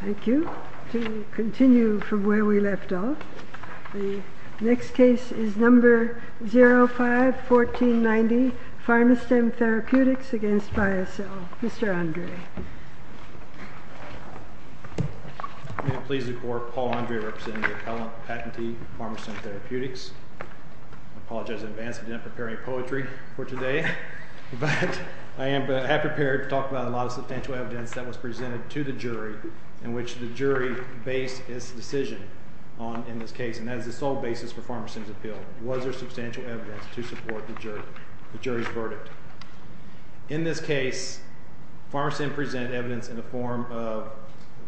Thank you. To continue from where we left off, the next case is number 05-1490, Pharma-Stem Therapeutics against Biosell. Mr. Andre. May it please the Court, Paul Andre representing the appellant patentee, Pharma-Stem Therapeutics. I apologize in advance, I didn't prepare any poetry for today, but I have prepared to talk about a lot of substantial evidence that was presented to the jury in which the jury based its decision on in this case, and that is the sole basis for Pharma-Stem's appeal. Was there substantial evidence to support the jury's verdict? In this case, Pharma-Stem presented evidence in the form of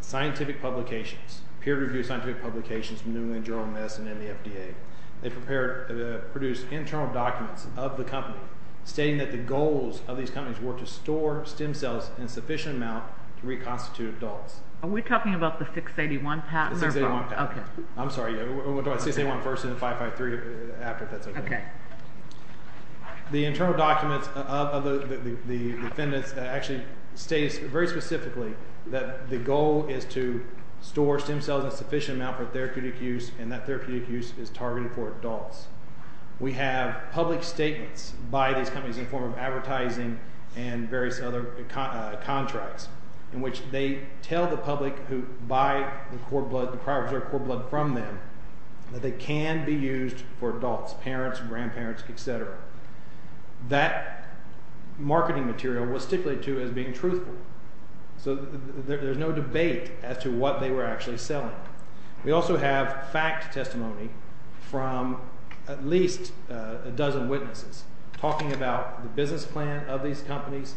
scientific publications, peer-reviewed scientific publications from New England Journal of Medicine and the FDA. They produced internal documents of the company stating that the goals of these companies were to store stem cells in sufficient amounts to reconstitute adults. Are we talking about the 681 patent? I'm sorry, 681 first and 553 after, if that's okay. The internal documents of the defendants actually state very specifically that the goal is to store stem cells in sufficient amounts for therapeutic use, and that therapeutic use is targeted for adults. We have public statements by these companies in the form of advertising and various other contracts in which they tell the public who buy the core blood, the prior preserved core blood from them, that they can be used for adults, parents, grandparents, etc. That marketing material was stipulated to as being truthful, so there's no debate as to what they were actually selling. We also have fact testimony from at least a dozen witnesses talking about the business plan of these companies,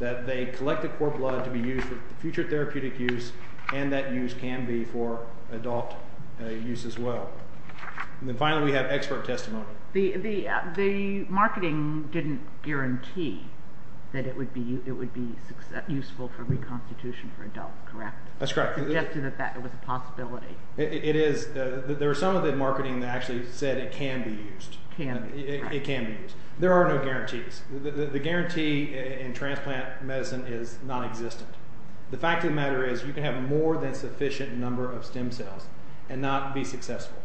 that they collect the core blood to be used for future therapeutic use, and that use can be for adult use as well. And then finally we have expert testimony. The marketing didn't guarantee that it would be useful for reconstitution for adults, correct? That's correct. It suggested that that was a possibility. It is. There was some of the marketing that actually said it can be used. It can be used. There are no guarantees. The guarantee in transplant medicine is nonexistent. The fact of the matter is you can have more than sufficient number of stem cells and not be successful.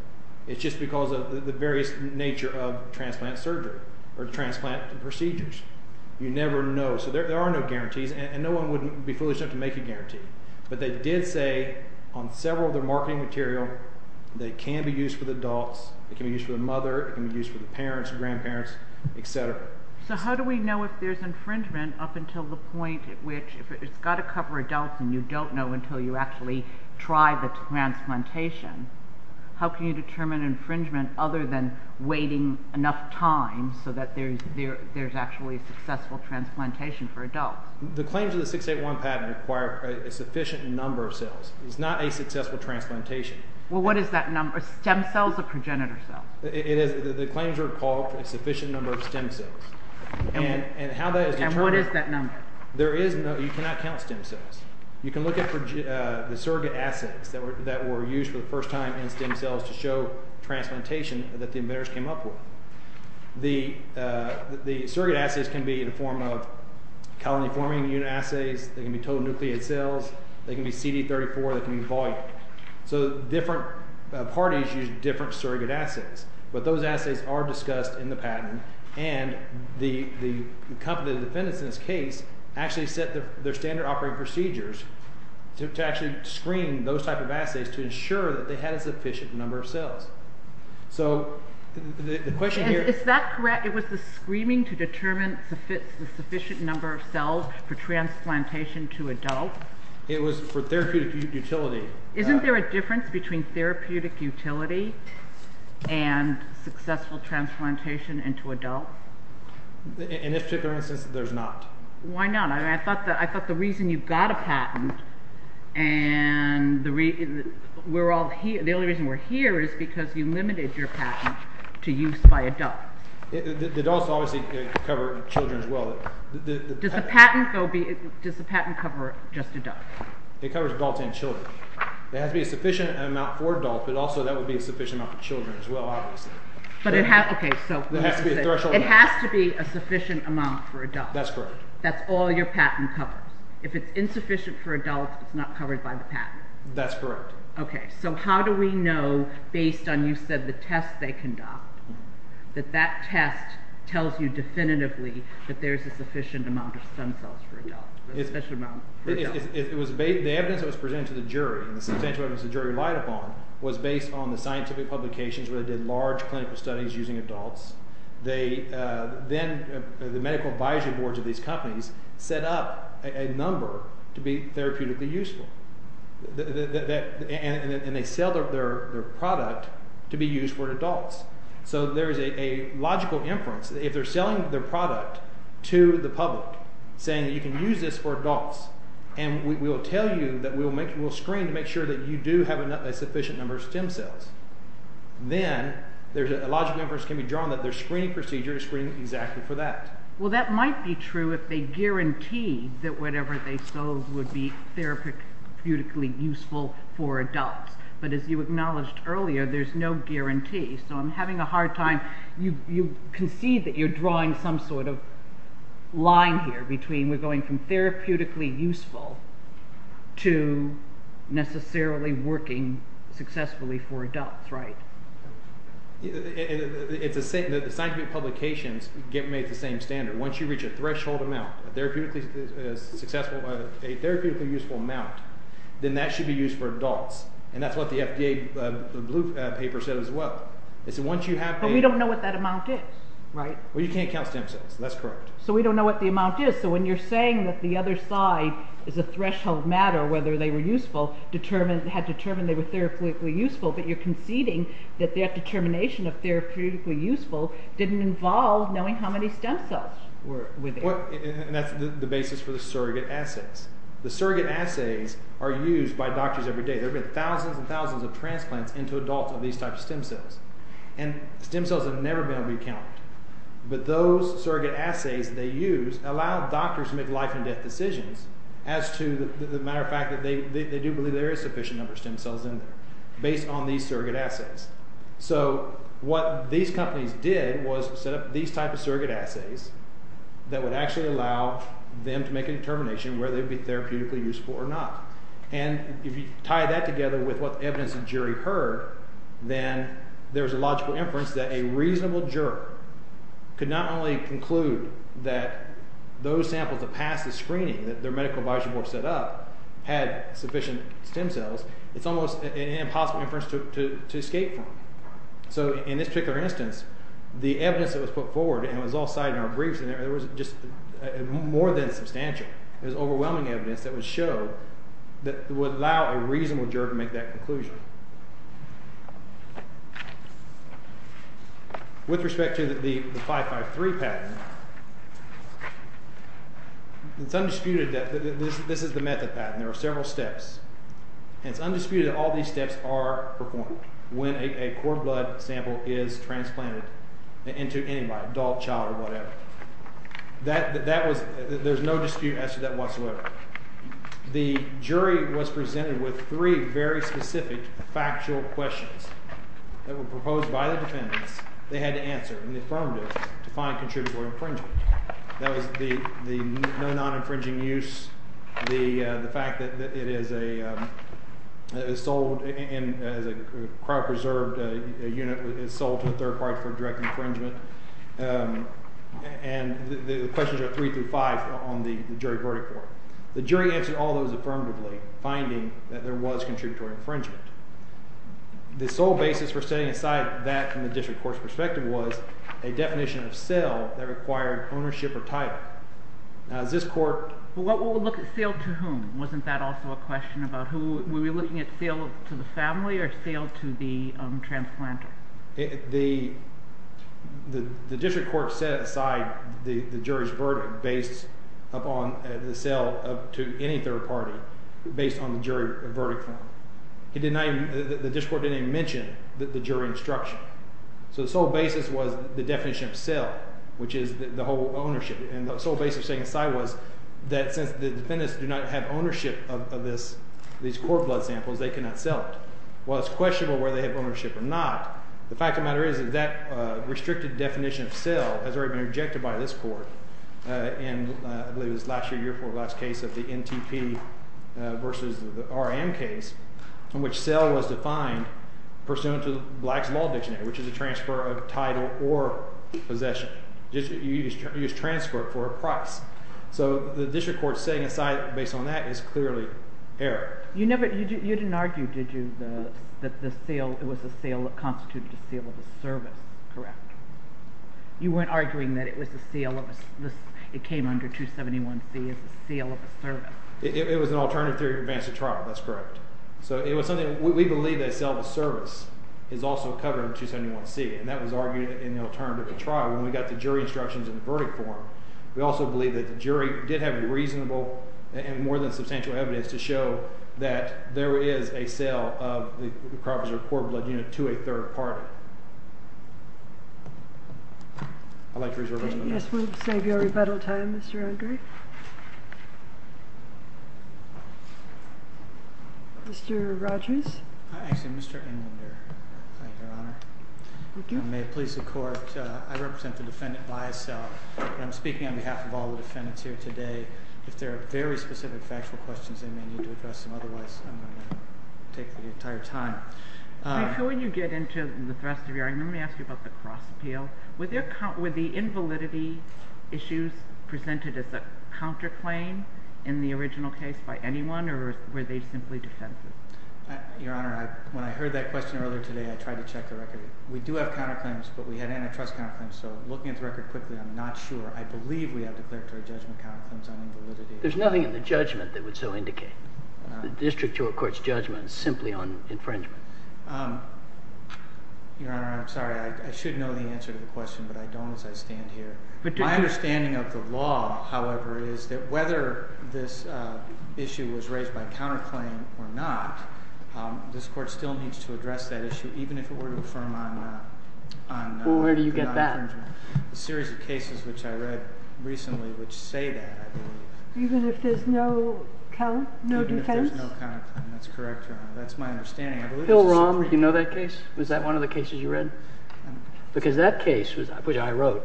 It's just because of the various nature of transplant surgery or transplant procedures. You never know. So there are no guarantees, and no one would be foolish enough to make a guarantee. But they did say on several of their marketing material they can be used for the adults, it can be used for the mother, it can be used for the parents, grandparents, et cetera. So how do we know if there's infringement up until the point at which it's got to cover adults and you don't know until you actually try the transplantation? How can you determine infringement other than waiting enough time so that there's actually a successful transplantation for adults? The claims of the 681 patent require a sufficient number of cells. It's not a successful transplantation. Well, what is that number, stem cells or progenitor cells? The claims are called for a sufficient number of stem cells. And how that is determined. And what is that number? You cannot count stem cells. You can look at the surrogate assays that were used for the first time in stem cells to show transplantation that the inventors came up with. The surrogate assays can be in the form of colony-forming unit assays, they can be total nucleate cells, they can be CD34, they can be volume. So different parties use different surrogate assays. But those assays are discussed in the patent, and the company defendants in this case actually set their standard operating procedures to actually screen those type of assays to ensure that they had a sufficient number of cells. So the question here is... Is that correct? It was the screening to determine the sufficient number of cells for transplantation to adults? It was for therapeutic utility. Isn't there a difference between therapeutic utility and successful transplantation into adults? In this particular instance, there's not. Why not? I thought the reason you got a patent and the only reason we're here is because you limited your patent to use by adults. The adults obviously cover children as well. Does the patent cover just adults? It covers adults and children. There has to be a sufficient amount for adults, but also that would be a sufficient amount for children as well, obviously. But it has to be a sufficient amount for adults. That's correct. That's all your patent covers. If it's insufficient for adults, it's not covered by the patent. That's correct. Okay, so how do we know, based on, you said, the test they conduct, that that test tells you definitively that there's a sufficient amount of stem cells for adults? The evidence that was presented to the jury and the substantial evidence the jury relied upon was based on the scientific publications where they did large clinical studies using adults. Then the medical advisory boards of these companies set up a number to be therapeutically useful, and they sell their product to be used for adults. So there is a logical inference that if they're selling their product to the public, saying that you can use this for adults, and we will tell you that we will screen to make sure that you do have a sufficient number of stem cells, then a logical inference can be drawn that their screening procedure is screening exactly for that. Well, that might be true if they guarantee that whatever they sold would be therapeutically useful for adults. But as you acknowledged earlier, there's no guarantee. So I'm having a hard time. You concede that you're drawing some sort of line here between we're going from therapeutically useful to necessarily working successfully for adults, right? The scientific publications get made at the same standard. Once you reach a threshold amount, a therapeutically useful amount, then that should be used for adults. And that's what the FDA paper said as well. But we don't know what that amount is, right? Well, you can't count stem cells. That's correct. So we don't know what the amount is. So when you're saying that the other side is a threshold matter, whether they were useful, had determined they were therapeutically useful, but you're conceding that their determination of therapeutically useful didn't involve knowing how many stem cells were within. And that's the basis for the surrogate assays. The surrogate assays are used by doctors every day. There have been thousands and thousands of transplants into adults of these types of stem cells. And stem cells have never been recounted. But those surrogate assays they use allow doctors to make life and death decisions as to the matter of fact that they do believe there is a sufficient number of stem cells in there based on these surrogate assays. So what these companies did was set up these types of surrogate assays that would actually allow them to make a determination whether they'd be therapeutically useful or not. And if you tie that together with what the evidence and jury heard, then there's a logical inference that a reasonable juror could not only conclude that those samples that passed the screening that their medical advisory board set up had sufficient stem cells, it's almost an impossible inference to escape from. So in this particular instance, the evidence that was put forward, and it was all cited in our briefs, there was just more than substantial. There was overwhelming evidence that would allow a reasonable juror to make that conclusion. With respect to the 553 patent, it's undisputed that this is the method patent. There are several steps, and it's undisputed that all these steps are performed when a core blood sample is transplanted into anybody, adult, child, or whatever. There's no dispute as to that whatsoever. The jury was presented with three very specific factual questions that were proposed by the defendants. They had to answer, and they affirmed it, to find contributory infringement. That was the no non-infringing use, the fact that it is sold as a cryopreserved unit, that it is sold to a third party for direct infringement. And the questions are three through five on the jury verdict form. The jury answered all those affirmatively, finding that there was contributory infringement. The sole basis for setting aside that from the district court's perspective was a definition of cell that required ownership or title. Now, is this court... Well, we'll look at cell to whom. Wasn't that also a question about who... Wasn't it sale to the family or sale to the transplanter? The district court set aside the jury's verdict based upon the sale to any third party based on the jury verdict form. The district court didn't even mention the jury instruction. So the sole basis was the definition of cell, which is the whole ownership. And the sole basis of setting aside was that since the defendants do not have ownership of these cord blood samples, they cannot sell it. While it's questionable whether they have ownership or not, the fact of the matter is that that restricted definition of cell has already been rejected by this court in, I believe, this last year, year before last case of the NTP versus the RM case, in which cell was defined pursuant to Black's Law Dictionary, which is a transfer of title or possession. You just transfer it for a price. So the district court setting aside based on that is clearly error. You didn't argue, did you, that it was a sale that constituted a sale of a service, correct? You weren't arguing that it came under 271C as a sale of a service. It was an alternative theory to advance the trial. That's correct. So we believe that a sale of a service is also covered in 271C, and that was argued in the alternative trial when we got the jury instructions in the verdict form. We also believe that the jury did have reasonable and more than substantial evidence to show that there is a sale of the Carpenter Corp blood unit to a third party. I'd like to reserve my time. Yes, we'll save your rebuttal time, Mr. Unger. Mr. Rogers? Hi. I'm Mr. Unger. Thank you, Your Honor. Thank you. And may it please the Court, I represent the defendant by itself, but I'm speaking on behalf of all the defendants here today. If there are very specific factual questions, they may need to address them. Otherwise, I'm going to take the entire time. When you get into the thrust of your argument, let me ask you about the cross appeal. Were the invalidity issues presented as a counterclaim in the original case by anyone, or were they simply defenses? Your Honor, when I heard that question earlier today, I tried to check the record. We do have counterclaims, but we had antitrust counterclaims. So looking at the record quickly, I'm not sure. I believe we have declaratory judgment counterclaims on invalidity. There's nothing in the judgment that would so indicate. The district court's judgment is simply on infringement. Your Honor, I'm sorry. I should know the answer to the question, but I don't as I stand here. My understanding of the law, however, is that whether this issue was raised by counterclaim or not, this court still needs to address that issue, even if it were to affirm on non-infringement. Well, where do you get that? A series of cases which I read recently which say that, I believe. Even if there's no defense? Even if there's no counterclaim, that's correct, Your Honor. That's my understanding. Bill Rahm, do you know that case? Was that one of the cases you read? Because that case, which I wrote,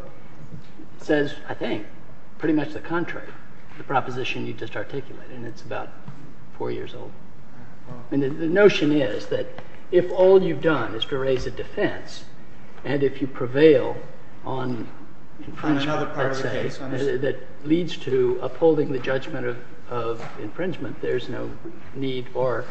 says, I think, pretty much the contrary to the proposition you just articulated. And it's about four years old. And the notion is that if all you've done is to raise a defense, and if you prevail on infringement, let's say, that leads to upholding the judgment of infringement, there's no need or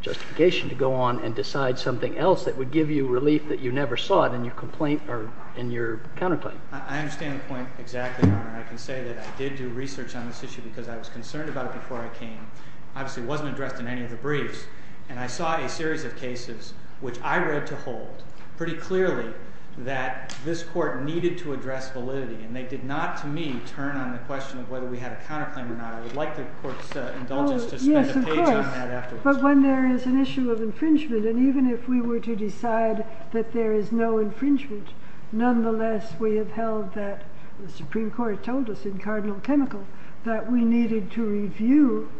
justification to go on and decide something else that would give you relief that you never sought in your complaint or in your counterclaim. I understand the point exactly, Your Honor. And I can say that I did do research on this issue because I was concerned about it before I came. Obviously, it wasn't addressed in any of the briefs. And I saw a series of cases which I read to hold pretty clearly that this court needed to address validity. And they did not, to me, turn on the question of whether we had a counterclaim or not. I would like the court's indulgence to spend a page on that afterwards. Yes, of course. But when there is an issue of infringement, and even if we were to decide that there is no infringement, nonetheless, we have held that the Supreme Court told us in Cardinal Chemical that we needed to review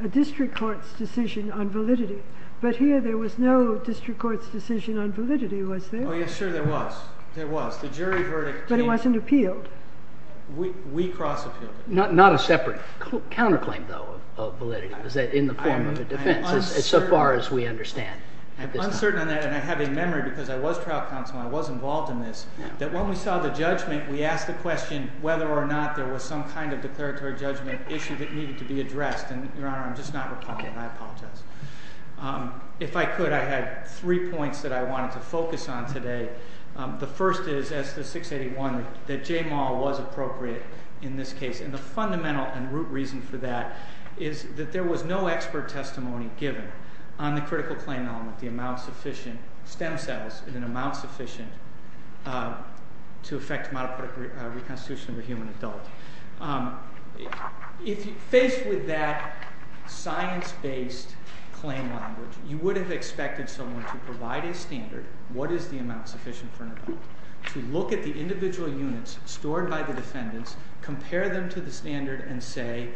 a district court's decision on validity. But here, there was no district court's decision on validity, was there? Oh, yes, sure, there was. There was. The jury verdict came. But it wasn't appealed. We cross-appealed it. Not a separate counterclaim, though, of validity, was that in the form of a defense, so far as we understand. I'm uncertain on that. And I have a memory, because I was trial counsel and I was involved in this, that when we saw the judgment, we asked the question whether or not there was some kind of declaratory judgment issue that needed to be addressed. And, Your Honor, I'm just not replying. I apologize. If I could, I had three points that I wanted to focus on today. The first is, as the 681, that J. Maul was appropriate in this case. And the fundamental and root reason for that is that there was no expert testimony given on the critical claim element, the amount sufficient, stem cells, in an amount sufficient to affect the model of reconstitution of a human adult. Faced with that science-based claim language, you would have expected someone to provide a standard, what is the amount sufficient for an adult, to look at the individual units stored by the defendants, compare them to the standard, and say,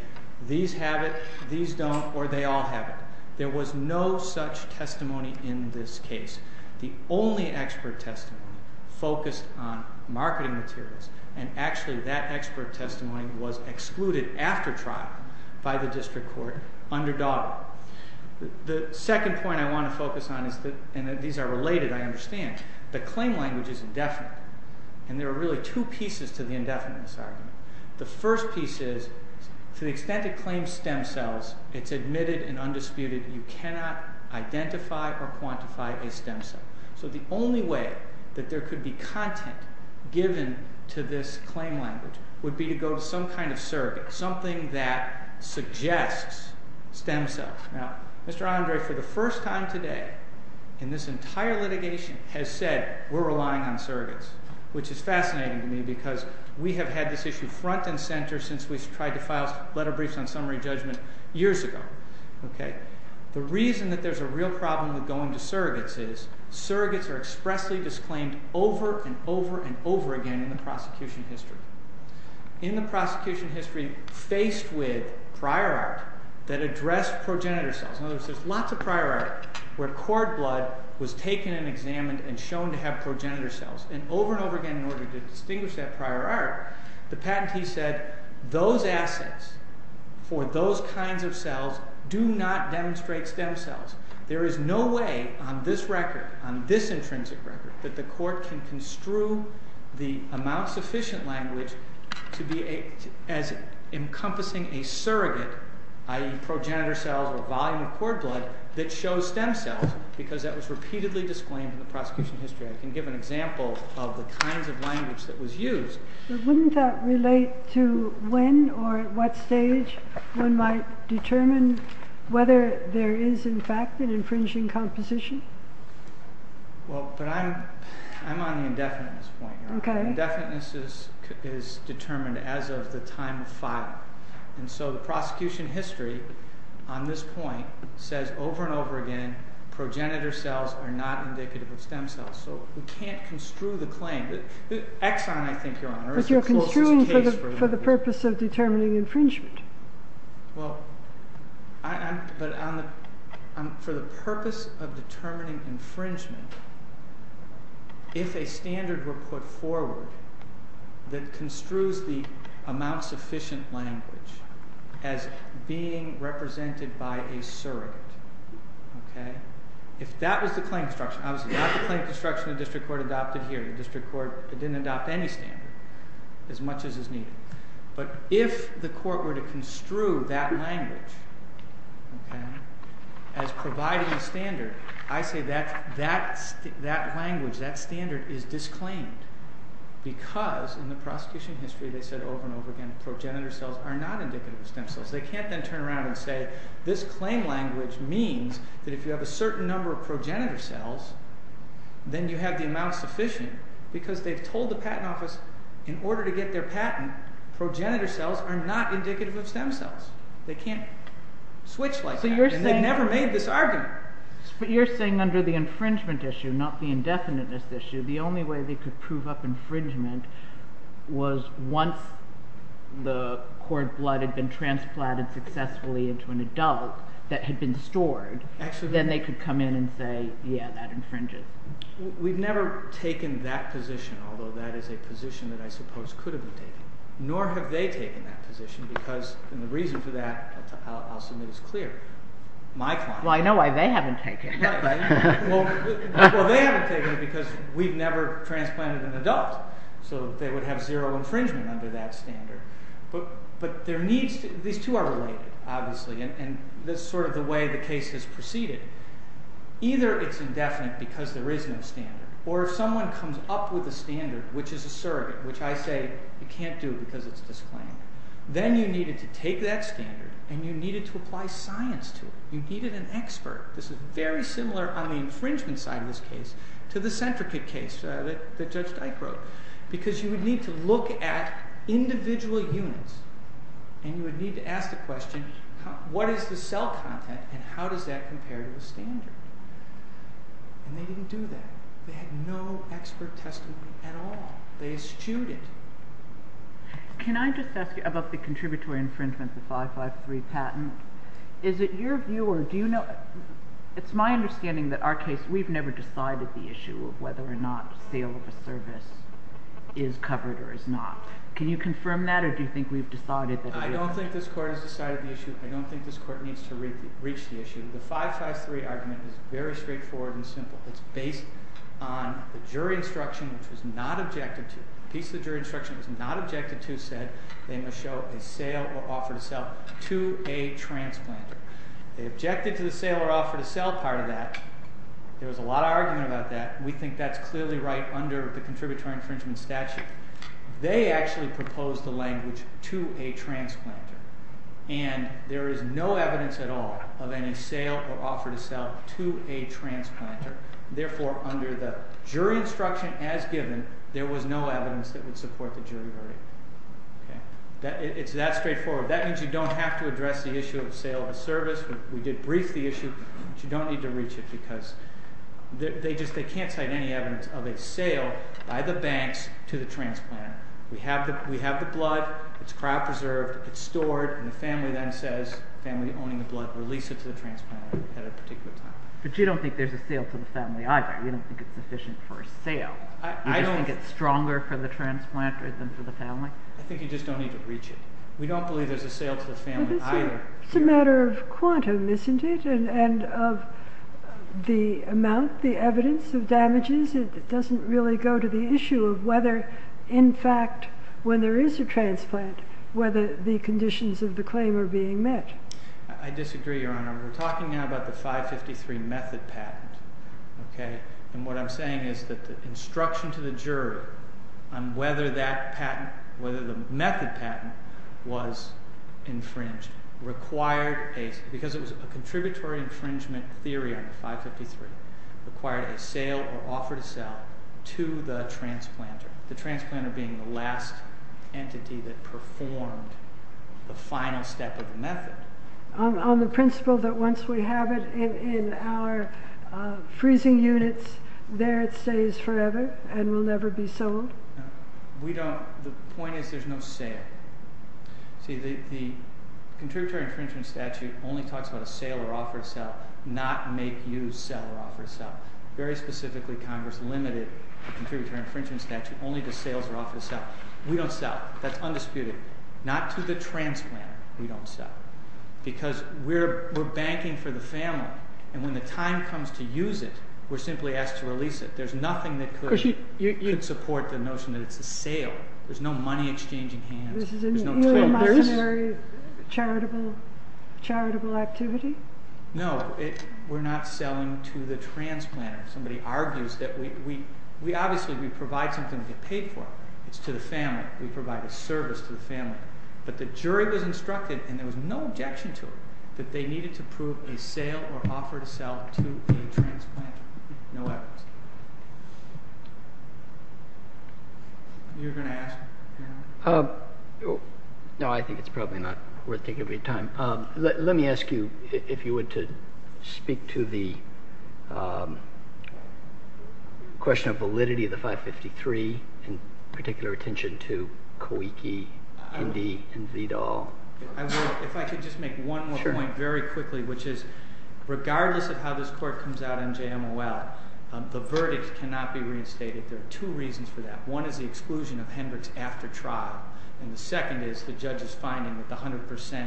these have it, these don't, or they all have it. There was no such testimony in this case. The only expert testimony focused on marketing materials. And, actually, that expert testimony was excluded after trial by the district court under Daugherty. The second point I want to focus on, and these are related, I understand, the claim language is indefinite. And there are really two pieces to the indefinite argument. The first piece is, to the extent it claims stem cells, it's admitted and undisputed, you cannot identify or quantify a stem cell. So the only way that there could be content given to this claim language would be to go to some kind of surrogate, something that suggests stem cells. Now, Mr. Andre, for the first time today, in this entire litigation, has said we're relying on surrogates, which is fascinating to me because we have had this issue front and center since we tried to file letter briefs on summary judgment years ago. The reason that there's a real problem with going to surrogates is surrogates are expressly disclaimed over and over and over again in the prosecution history. In the prosecution history faced with prior art that addressed progenitor cells. In other words, there's lots of prior art where cord blood was taken and examined and shown to have progenitor cells. And over and over again, in order to distinguish that prior art, the patentee said, those assets for those kinds of cells do not demonstrate stem cells. There is no way on this record, on this intrinsic record, that the court can construe the amount sufficient language to be as encompassing a surrogate, i.e. progenitor cells or volume of cord blood, that shows stem cells because that was repeatedly disclaimed in the prosecution history. I can give an example of the kinds of language that was used. But wouldn't that relate to when or at what stage one might determine whether there is in fact an infringing composition? Well, but I'm on the indefiniteness point here. Indefiniteness is determined as of the time of filing. And so the prosecution history on this point says over and over again, progenitor cells are not indicative of stem cells. So we can't construe the claim. Exxon, I think, Your Honor, is the closest case for that. But you're construing for the purpose of determining infringement. Well, but for the purpose of determining infringement, if a standard were put forward that construes the amount sufficient language as being represented by a surrogate, if that was the claim construction, obviously not the claim construction the district court adopted here. The district court didn't adopt any standard as much as is needed. But if the court were to construe that language as providing a standard, I say that language, that standard is disclaimed. Because in the prosecution history they said over and over again, progenitor cells are not indicative of stem cells. They can't then turn around and say, this claim language means that if you have a certain number of progenitor cells, then you have the amount sufficient. Because they've told the patent office, in order to get their patent, progenitor cells are not indicative of stem cells. They can't switch like that, and they've never made this argument. But you're saying under the infringement issue, not the indefiniteness issue, the only way they could prove up infringement was once the cord blood had been transplanted successfully into an adult that had been stored. Then they could come in and say, yeah, that infringes. We've never taken that position, although that is a position that I suppose could have been taken. Nor have they taken that position, because the reason for that, I'll submit as clear, my client. Well, I know why they haven't taken it. Well, they haven't taken it because we've never transplanted an adult. So they would have zero infringement under that standard. But these two are related, obviously, and that's sort of the way the case has proceeded. Either it's indefinite because there is no standard, or if someone comes up with a standard, which is a surrogate, which I say you can't do because it's disclaimed. Then you needed to take that standard, and you needed to apply science to it. You needed an expert. This is very similar on the infringement side of this case to the centricate case that Judge Dyke wrote, because you would need to look at individual units, and you would need to ask the question, what is the cell content and how does that compare to the standard? And they didn't do that. They had no expert testimony at all. They eschewed it. Can I just ask you about the contributory infringement, the 553 patent? Is it your view or do you know? It's my understanding that our case, we've never decided the issue of whether or not sale of a service is covered or is not. Can you confirm that, or do you think we've decided that it is? I don't think this court has decided the issue. I don't think this court needs to reach the issue. The 553 argument is very straightforward and simple. It's based on the jury instruction, which was not objective to it. The piece of the jury instruction that was not objective to said they must show a sale or offer to sell to a transplanter. They objected to the sale or offer to sell part of that. There was a lot of argument about that. We think that's clearly right under the contributory infringement statute. They actually proposed the language to a transplanter, and there is no evidence at all of any sale or offer to sell to a transplanter. Therefore, under the jury instruction as given, there was no evidence that would support the jury verdict. It's that straightforward. That means you don't have to address the issue of sale of a service. We did brief the issue, but you don't need to reach it because they can't cite any evidence of a sale by the banks to the transplanter. We have the blood. It's cryopreserved. It's stored, and the family then says, the family owning the blood, release it to the transplanter at a particular time. But you don't think there's a sale to the family either. You don't think it's sufficient for a sale. You just think it's stronger for the transplanter than for the family? I think you just don't need to reach it. We don't believe there's a sale to the family either. It's a matter of quantum, isn't it, and of the amount, the evidence of damages. It doesn't really go to the issue of whether, in fact, when there is a transplant, whether the conditions of the claim are being met. I disagree, Your Honor. We're talking now about the 553 method patent, and what I'm saying is that the instruction to the jury on whether the method patent was infringed required a— because it was a contributory infringement theory on the 553—required a sale or offer to sell to the transplanter, the transplanter being the last entity that performed the final step of the method. On the principle that once we have it in our freezing units, there it stays forever and will never be sold? We don't—the point is there's no sale. See, the contributory infringement statute only talks about a sale or offer to sell, not make you sell or offer to sell. Very specifically, Congress limited the contributory infringement statute only to sales or offer to sell. We don't sell. That's undisputed. Not to the transplanter, we don't sell. Because we're banking for the family, and when the time comes to use it, we're simply asked to release it. There's nothing that could support the notion that it's a sale. There's no money exchanging hands. There's no traders. This is an ill-mercenary charitable activity? No, we're not selling to the transplanter. Somebody argues that we—obviously, we provide something to get paid for. It's to the family. We provide a service to the family. But the jury was instructed, and there was no objection to it, that they needed to prove a sale or offer to sell to a transplanter. No evidence. You were going to ask? No, I think it's probably not worth taking up any time. Let me ask you, if you would, to speak to the question of validity of the 553, in particular attention to Kawiki, Indy, and Vidal. If I could just make one more point very quickly, which is regardless of how this court comes out in JMOL, the verdict cannot be reinstated. There are two reasons for that. One is the exclusion of Hendricks after trial. And the second is the judge's finding that the 100%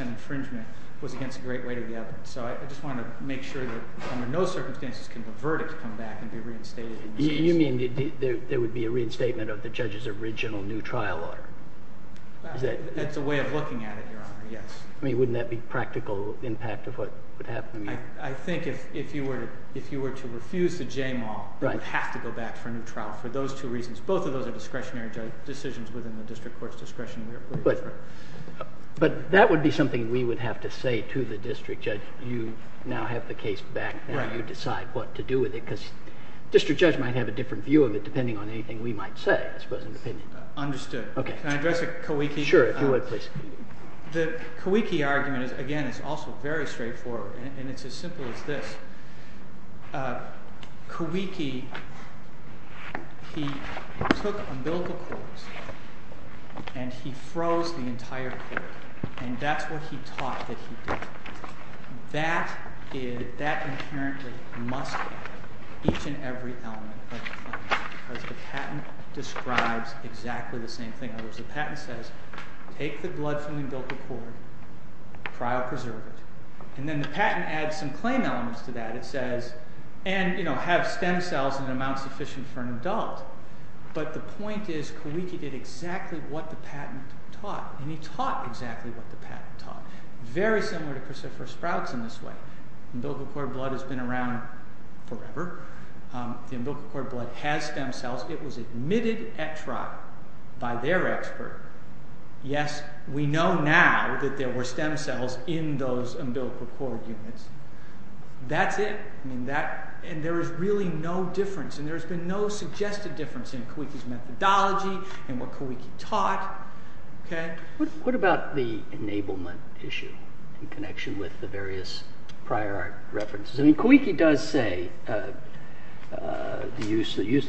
infringement was against a great weight of the evidence. So I just want to make sure that under no circumstances can the verdict come back and be reinstated. You mean there would be a reinstatement of the judge's original new trial order? That's a way of looking at it, Your Honor, yes. I mean, wouldn't that be practical impact of what would happen? I think if you were to refuse the JMOL, you would have to go back for a new trial for those two reasons. Both of those are discretionary decisions within the district court's discretion. But that would be something we would have to say to the district judge. You now have the case back, and you decide what to do with it. Because district judge might have a different view of it depending on anything we might say, I suppose, in the opinion. Understood. Can I address a Kawiki? Sure, if you would, please. The Kawiki argument is, again, it's also very straightforward. And it's as simple as this. Kawiki, he took umbilical cords, and he froze the entire cord. And that's what he taught that he did. That inherently must happen, each and every element of the patent. Because the patent describes exactly the same thing. In other words, the patent says, take the blood from the umbilical cord, pry or preserve it. And then the patent adds some claim elements to that. It says, and have stem cells in an amount sufficient for an adult. But the point is, Kawiki did exactly what the patent taught. And he taught exactly what the patent taught. Very similar to Christopher Sprouts in this way. Umbilical cord blood has been around forever. The umbilical cord blood has stem cells. It was admitted at trial by their expert. Yes, we know now that there were stem cells in those umbilical cord units. That's it. And there is really no difference. And there's been no suggested difference in Kawiki's methodology, in what Kawiki taught. What about the enablement issue in connection with the various prior references? Kawiki does say,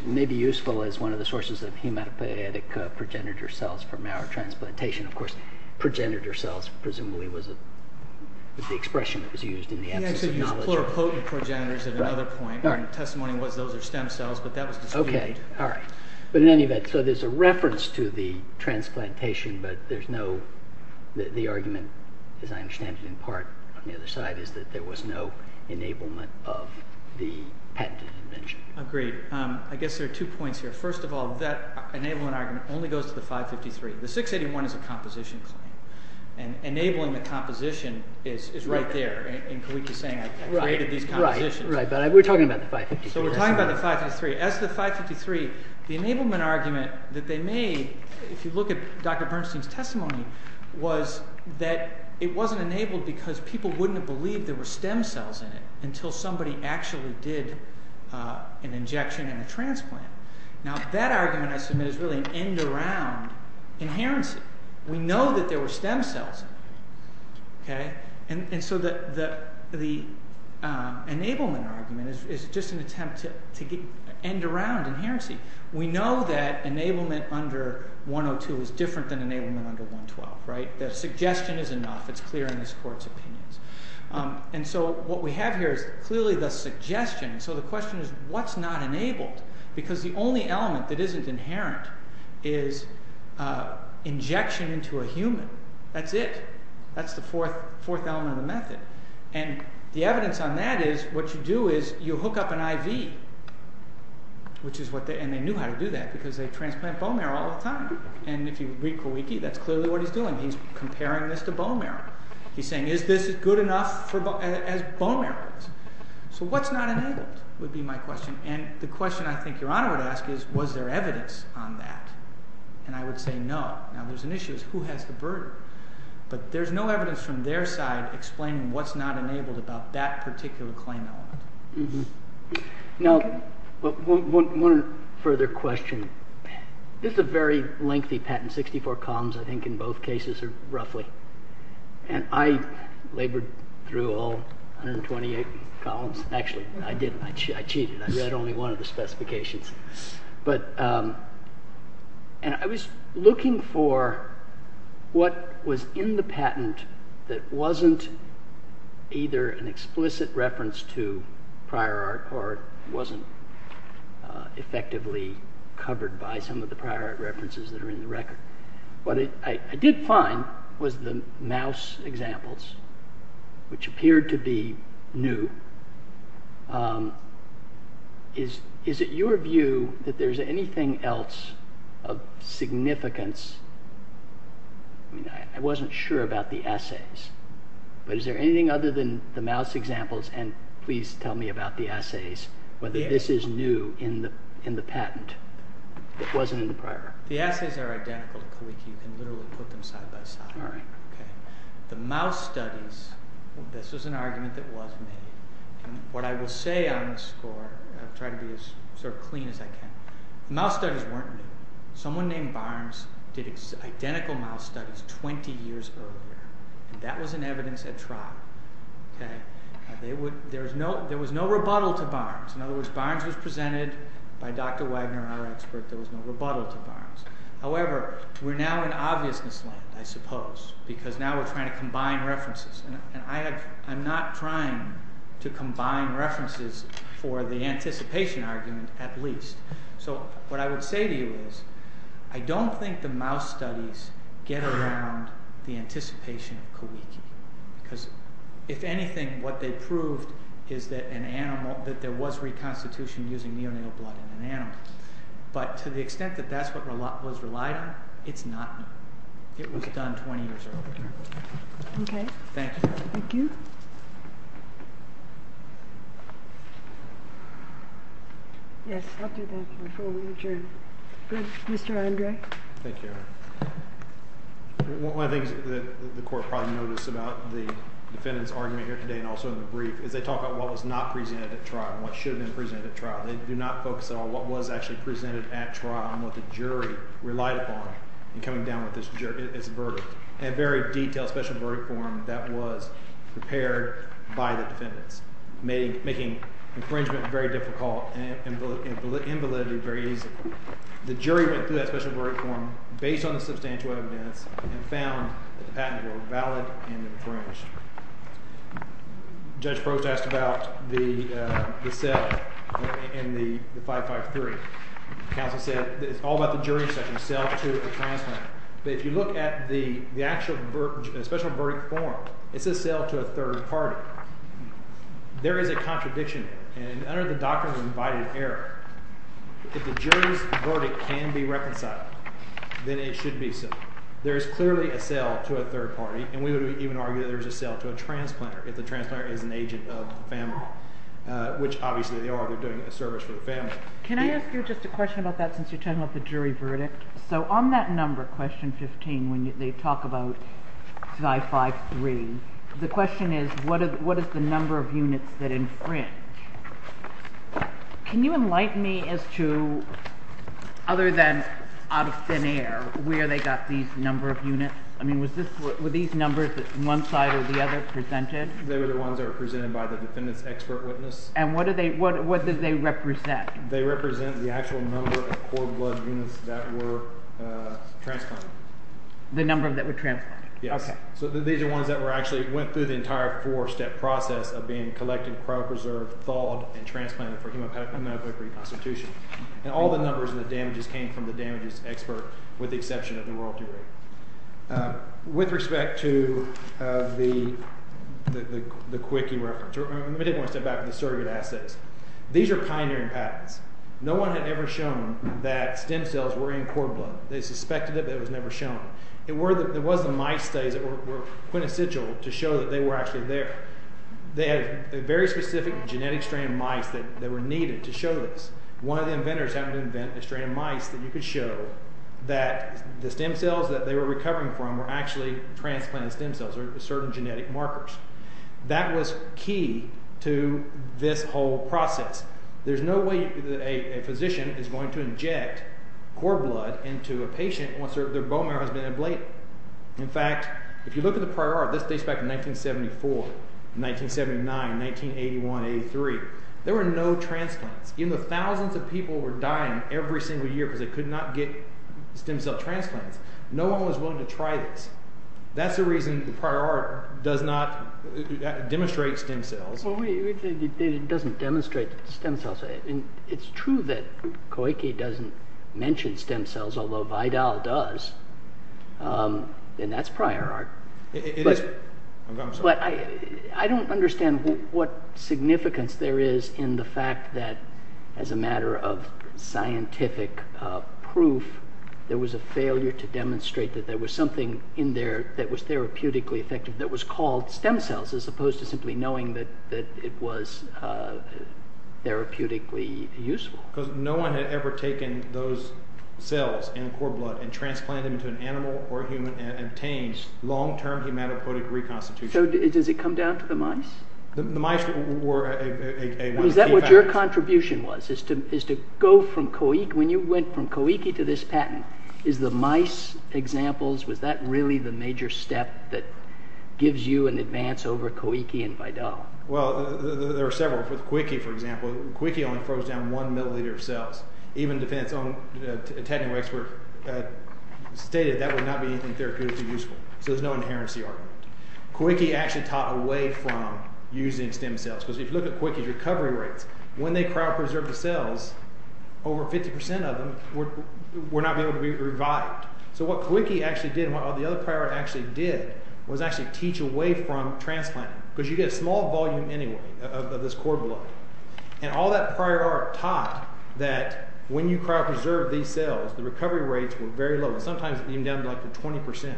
may be useful as one of the sources of hematopoietic progenitor cells for marrow transplantation. Of course, progenitor cells presumably was the expression that was used in the absence of knowledge. He actually used pluripotent progenitors at another point. And the testimony was those are stem cells, but that was disputed. Okay, alright. But in any event, so there's a reference to the transplantation, but there's no, the argument, as I understand it in part, on the other side, is that there was no enablement of the patented invention. Agreed. I guess there are two points here. First of all, that enablement argument only goes to the 553. The 681 is a composition claim. And enabling the composition is right there. And Kawiki is saying I created these compositions. Right, but we're talking about the 553. So we're talking about the 553. As to the 553, the enablement argument that they made, if you look at Dr. Bernstein's testimony, was that it wasn't enabled because people wouldn't have believed there were stem cells in it until somebody actually did an injection and a transplant. Now that argument, I submit, is really an end-around inherency. We know that there were stem cells in it. And so the enablement argument is just an attempt to end-around inherency. We know that enablement under 102 is different than enablement under 112. The suggestion is enough. It's clear in this court's opinions. And so what we have here is clearly the suggestion. So the question is what's not enabled? Because the only element that isn't inherent is injection into a human. That's it. That's the fourth element of the method. And the evidence on that is what you do is you hook up an IV. And they knew how to do that because they transplant bone marrow all the time. And if you re-co-weak it, that's clearly what he's doing. He's comparing this to bone marrow. He's saying is this good enough as bone marrow is? So what's not enabled would be my question. And the question I think Your Honor would ask is was there evidence on that? And I would say no. Now there's an issue as to who has the burden. But there's no evidence from their side explaining what's not enabled about that particular claim element. Now one further question. This is a very lengthy patent, 64 columns I think in both cases roughly. And I labored through all 128 columns. Actually, I didn't. I cheated. I read only one of the specifications. And I was looking for what was in the patent that wasn't either an explicit reference to prior art or wasn't effectively covered by some of the prior art references that are in the record. What I did find was the mouse examples, which appeared to be new. Is it your view that there's anything else of significance? I wasn't sure about the essays. But is there anything other than the mouse examples? And please tell me about the essays, whether this is new in the patent. It wasn't in the prior. The essays are identical. You can literally put them side by side. All right. The mouse studies, this was an argument that was made. And what I will say on the score, I'll try to be as sort of clean as I can. The mouse studies weren't new. Someone named Barnes did identical mouse studies 20 years earlier. And that was in evidence at trial. There was no rebuttal to Barnes. In other words, Barnes was presented by Dr. Wagner, our expert. There was no rebuttal to Barnes. However, we're now in obviousness land, I suppose. Because now we're trying to combine references. And I'm not trying to combine references for the anticipation argument, at least. So what I would say to you is I don't think the mouse studies get around the anticipation of Kawiki. Because if anything, what they proved is that there was reconstitution using neonatal blood in an animal. But to the extent that that's what was relied on, it's not new. It was done 20 years earlier. Thank you. Thank you. Yes, I'll do that before we adjourn. Good. Mr. Andre? Thank you. One of the things that the court probably noticed about the defendant's argument here today and also in the brief is they talk about what was not presented at trial and what should have been presented at trial. They do not focus at all on what was actually presented at trial and what the jury relied upon in coming down with this verdict. A very detailed special verdict form that was prepared by the defendants, making infringement very difficult and invalidity very easy. The jury went through that special verdict form based on the substantial evidence and found that the patents were valid and infringed. Judge Brooks asked about the cell in the 553. Counsel said it's all about the jury section, cell to a transplant. But if you look at the actual special verdict form, it says cell to a third party. There is a contradiction. And under the doctrine of invited error, if the jury's verdict can be reconciled, then it should be so. There is clearly a cell to a third party, and we would even argue that there is a cell to a transplant if the transplant is an agent of the family, which obviously they are. They're doing a service for the family. Can I ask you just a question about that since you're talking about the jury verdict? So on that number, question 15, when they talk about 553, the question is what is the number of units that infringe? Can you enlighten me as to, other than out of thin air, where they got these number of units? I mean, were these numbers on one side or the other presented? They were the ones that were presented by the defendant's expert witness. And what did they represent? They represent the actual number of core blood units that were transplanted. The number that were transplanted? Yes. So these are the ones that actually went through the entire four-step process of being collected, cryopreserved, thawed, and transplanted for hemopoietic reconstitution. And all the numbers and the damages came from the damages expert with the exception of the royalty rate. With respect to the quickie reference, let me take one step back from the surrogate assets. These are pioneering patents. No one had ever shown that stem cells were in core blood. They suspected it, but it was never shown. There was the mice studies that were quintessential to show that they were actually there. They had very specific genetic strand of mice that were needed to show this. One of the inventors happened to invent a strand of mice that you could show that the stem cells that they were recovering from were actually transplanted stem cells or certain genetic markers. That was key to this whole process. There's no way that a physician is going to inject core blood into a patient once their bone marrow has been ablated. In fact, if you look at the prior art, this dates back to 1974, 1979, 1981, 1983. There were no transplants. Even though thousands of people were dying every single year because they could not get stem cell transplants, no one was willing to try this. That's the reason the prior art does not demonstrate stem cells. It doesn't demonstrate stem cells. It's true that Koike doesn't mention stem cells, although Vidal does, and that's prior art. It is. I'm sorry. I don't understand what significance there is in the fact that as a matter of scientific proof, there was a failure to demonstrate that there was something in there that was therapeutically effective that was called stem cells as opposed to simply knowing that it was therapeutically useful. Because no one had ever taken those cells and core blood and transplanted them to an animal or human and obtained long-term hematopoietic reconstitution. So does it come down to the mice? The mice were one of the key factors. Is that what your contribution was, is to go from Koike? Is the mice examples, was that really the major step that gives you an advance over Koike and Vidal? Well, there are several. With Koike, for example, Koike only froze down one milliliter of cells. Even a technical expert stated that would not be anything therapeutically useful. So there's no inherency argument. Koike actually taught away from using stem cells. Because if you look at Koike's recovery rates, when they cryopreserved the cells, over 50% of them were not able to be revived. So what Koike actually did and what the other prior art actually did was actually teach away from transplanting. Because you get a small volume anyway of this core blood. And all that prior art taught that when you cryopreserve these cells, the recovery rates were very low. Sometimes even down to like 20%.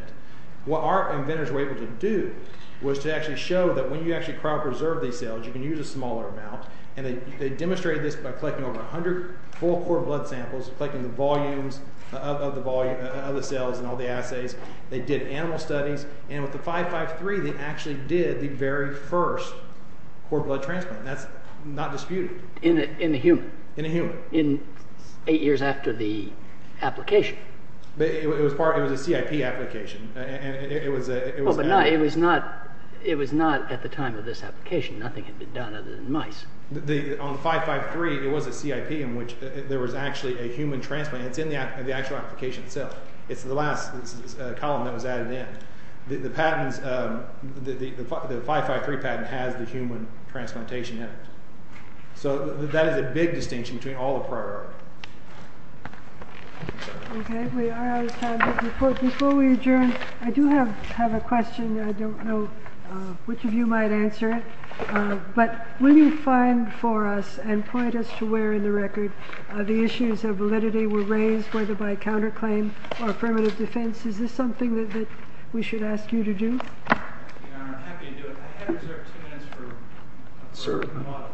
What our inventors were able to do was to actually show that when you actually cryopreserve these cells, you can use a smaller amount. And they demonstrated this by collecting over 100 full core blood samples, collecting the volumes of the cells and all the assays. They did animal studies. And with the 553, they actually did the very first core blood transplant. That's not disputed. In a human? In a human. In eight years after the application? It was a CIP application. It was not at the time of this application. Nothing had been done other than mice. On 553, it was a CIP in which there was actually a human transplant. It's in the actual application itself. It's the last column that was added in. The 553 patent has the human transplantation in it. So that is a big distinction between all the prior art. Okay. Before we adjourn, I do have a question. I don't know which of you might answer it. But will you find for us and point us to where in the record the issues of validity were raised, whether by counterclaim or affirmative defense? Is this something that we should ask you to do? Your Honor, I'm happy to do it. I have reserved two minutes for a model.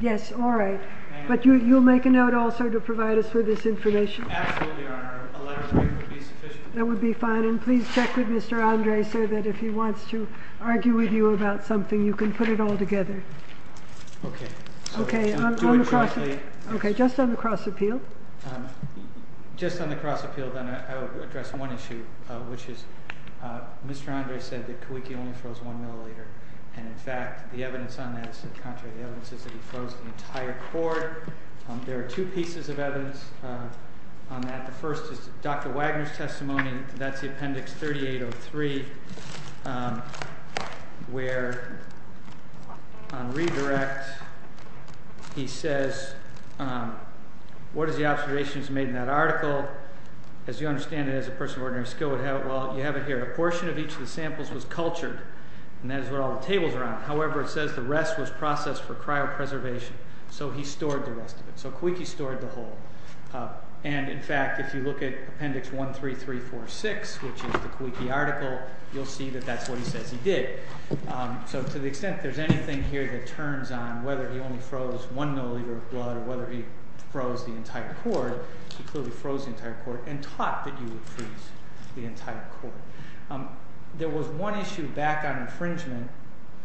Yes, all right. But you'll make a note also to provide us with this information? Absolutely, Your Honor. A letter would be sufficient. That would be fine. And please check with Mr. Andre, sir, that if he wants to argue with you about something, you can put it all together. Okay. Okay. Just on the cross appeal. Just on the cross appeal, then, I will address one issue, which is Mr. Andre said that Kawiki only froze one milliliter. And, in fact, the evidence on that is that he froze the entire cord. There are two pieces of evidence on that. The first is Dr. Wagner's testimony. That's the appendix 3803, where, on redirect, he says, what is the observations made in that article? As you understand it, as a person of ordinary skill would have it, well, you have it here. A portion of each of the samples was cultured, and that is what all the tables are on. However, it says the rest was processed for cryopreservation. So he stored the rest of it. So Kawiki stored the whole. And, in fact, if you look at appendix 13346, which is the Kawiki article, you'll see that that's what he says he did. So to the extent there's anything here that turns on whether he only froze one milliliter of blood or whether he froze the entire cord, he clearly froze the entire cord and taught that you would freeze the entire cord. There was one issue back on infringement.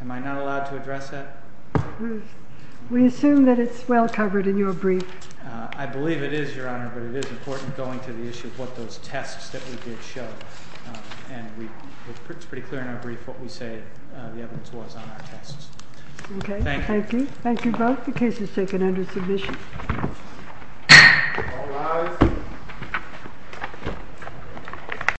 Am I not allowed to address that? We assume that it's well covered in your brief. I believe it is, Your Honor, but it is important going to the issue of what those tests that we did show. And it's pretty clear in our brief what we say the evidence was on our tests. Thank you. Thank you. Thank you both. The case is taken under submission.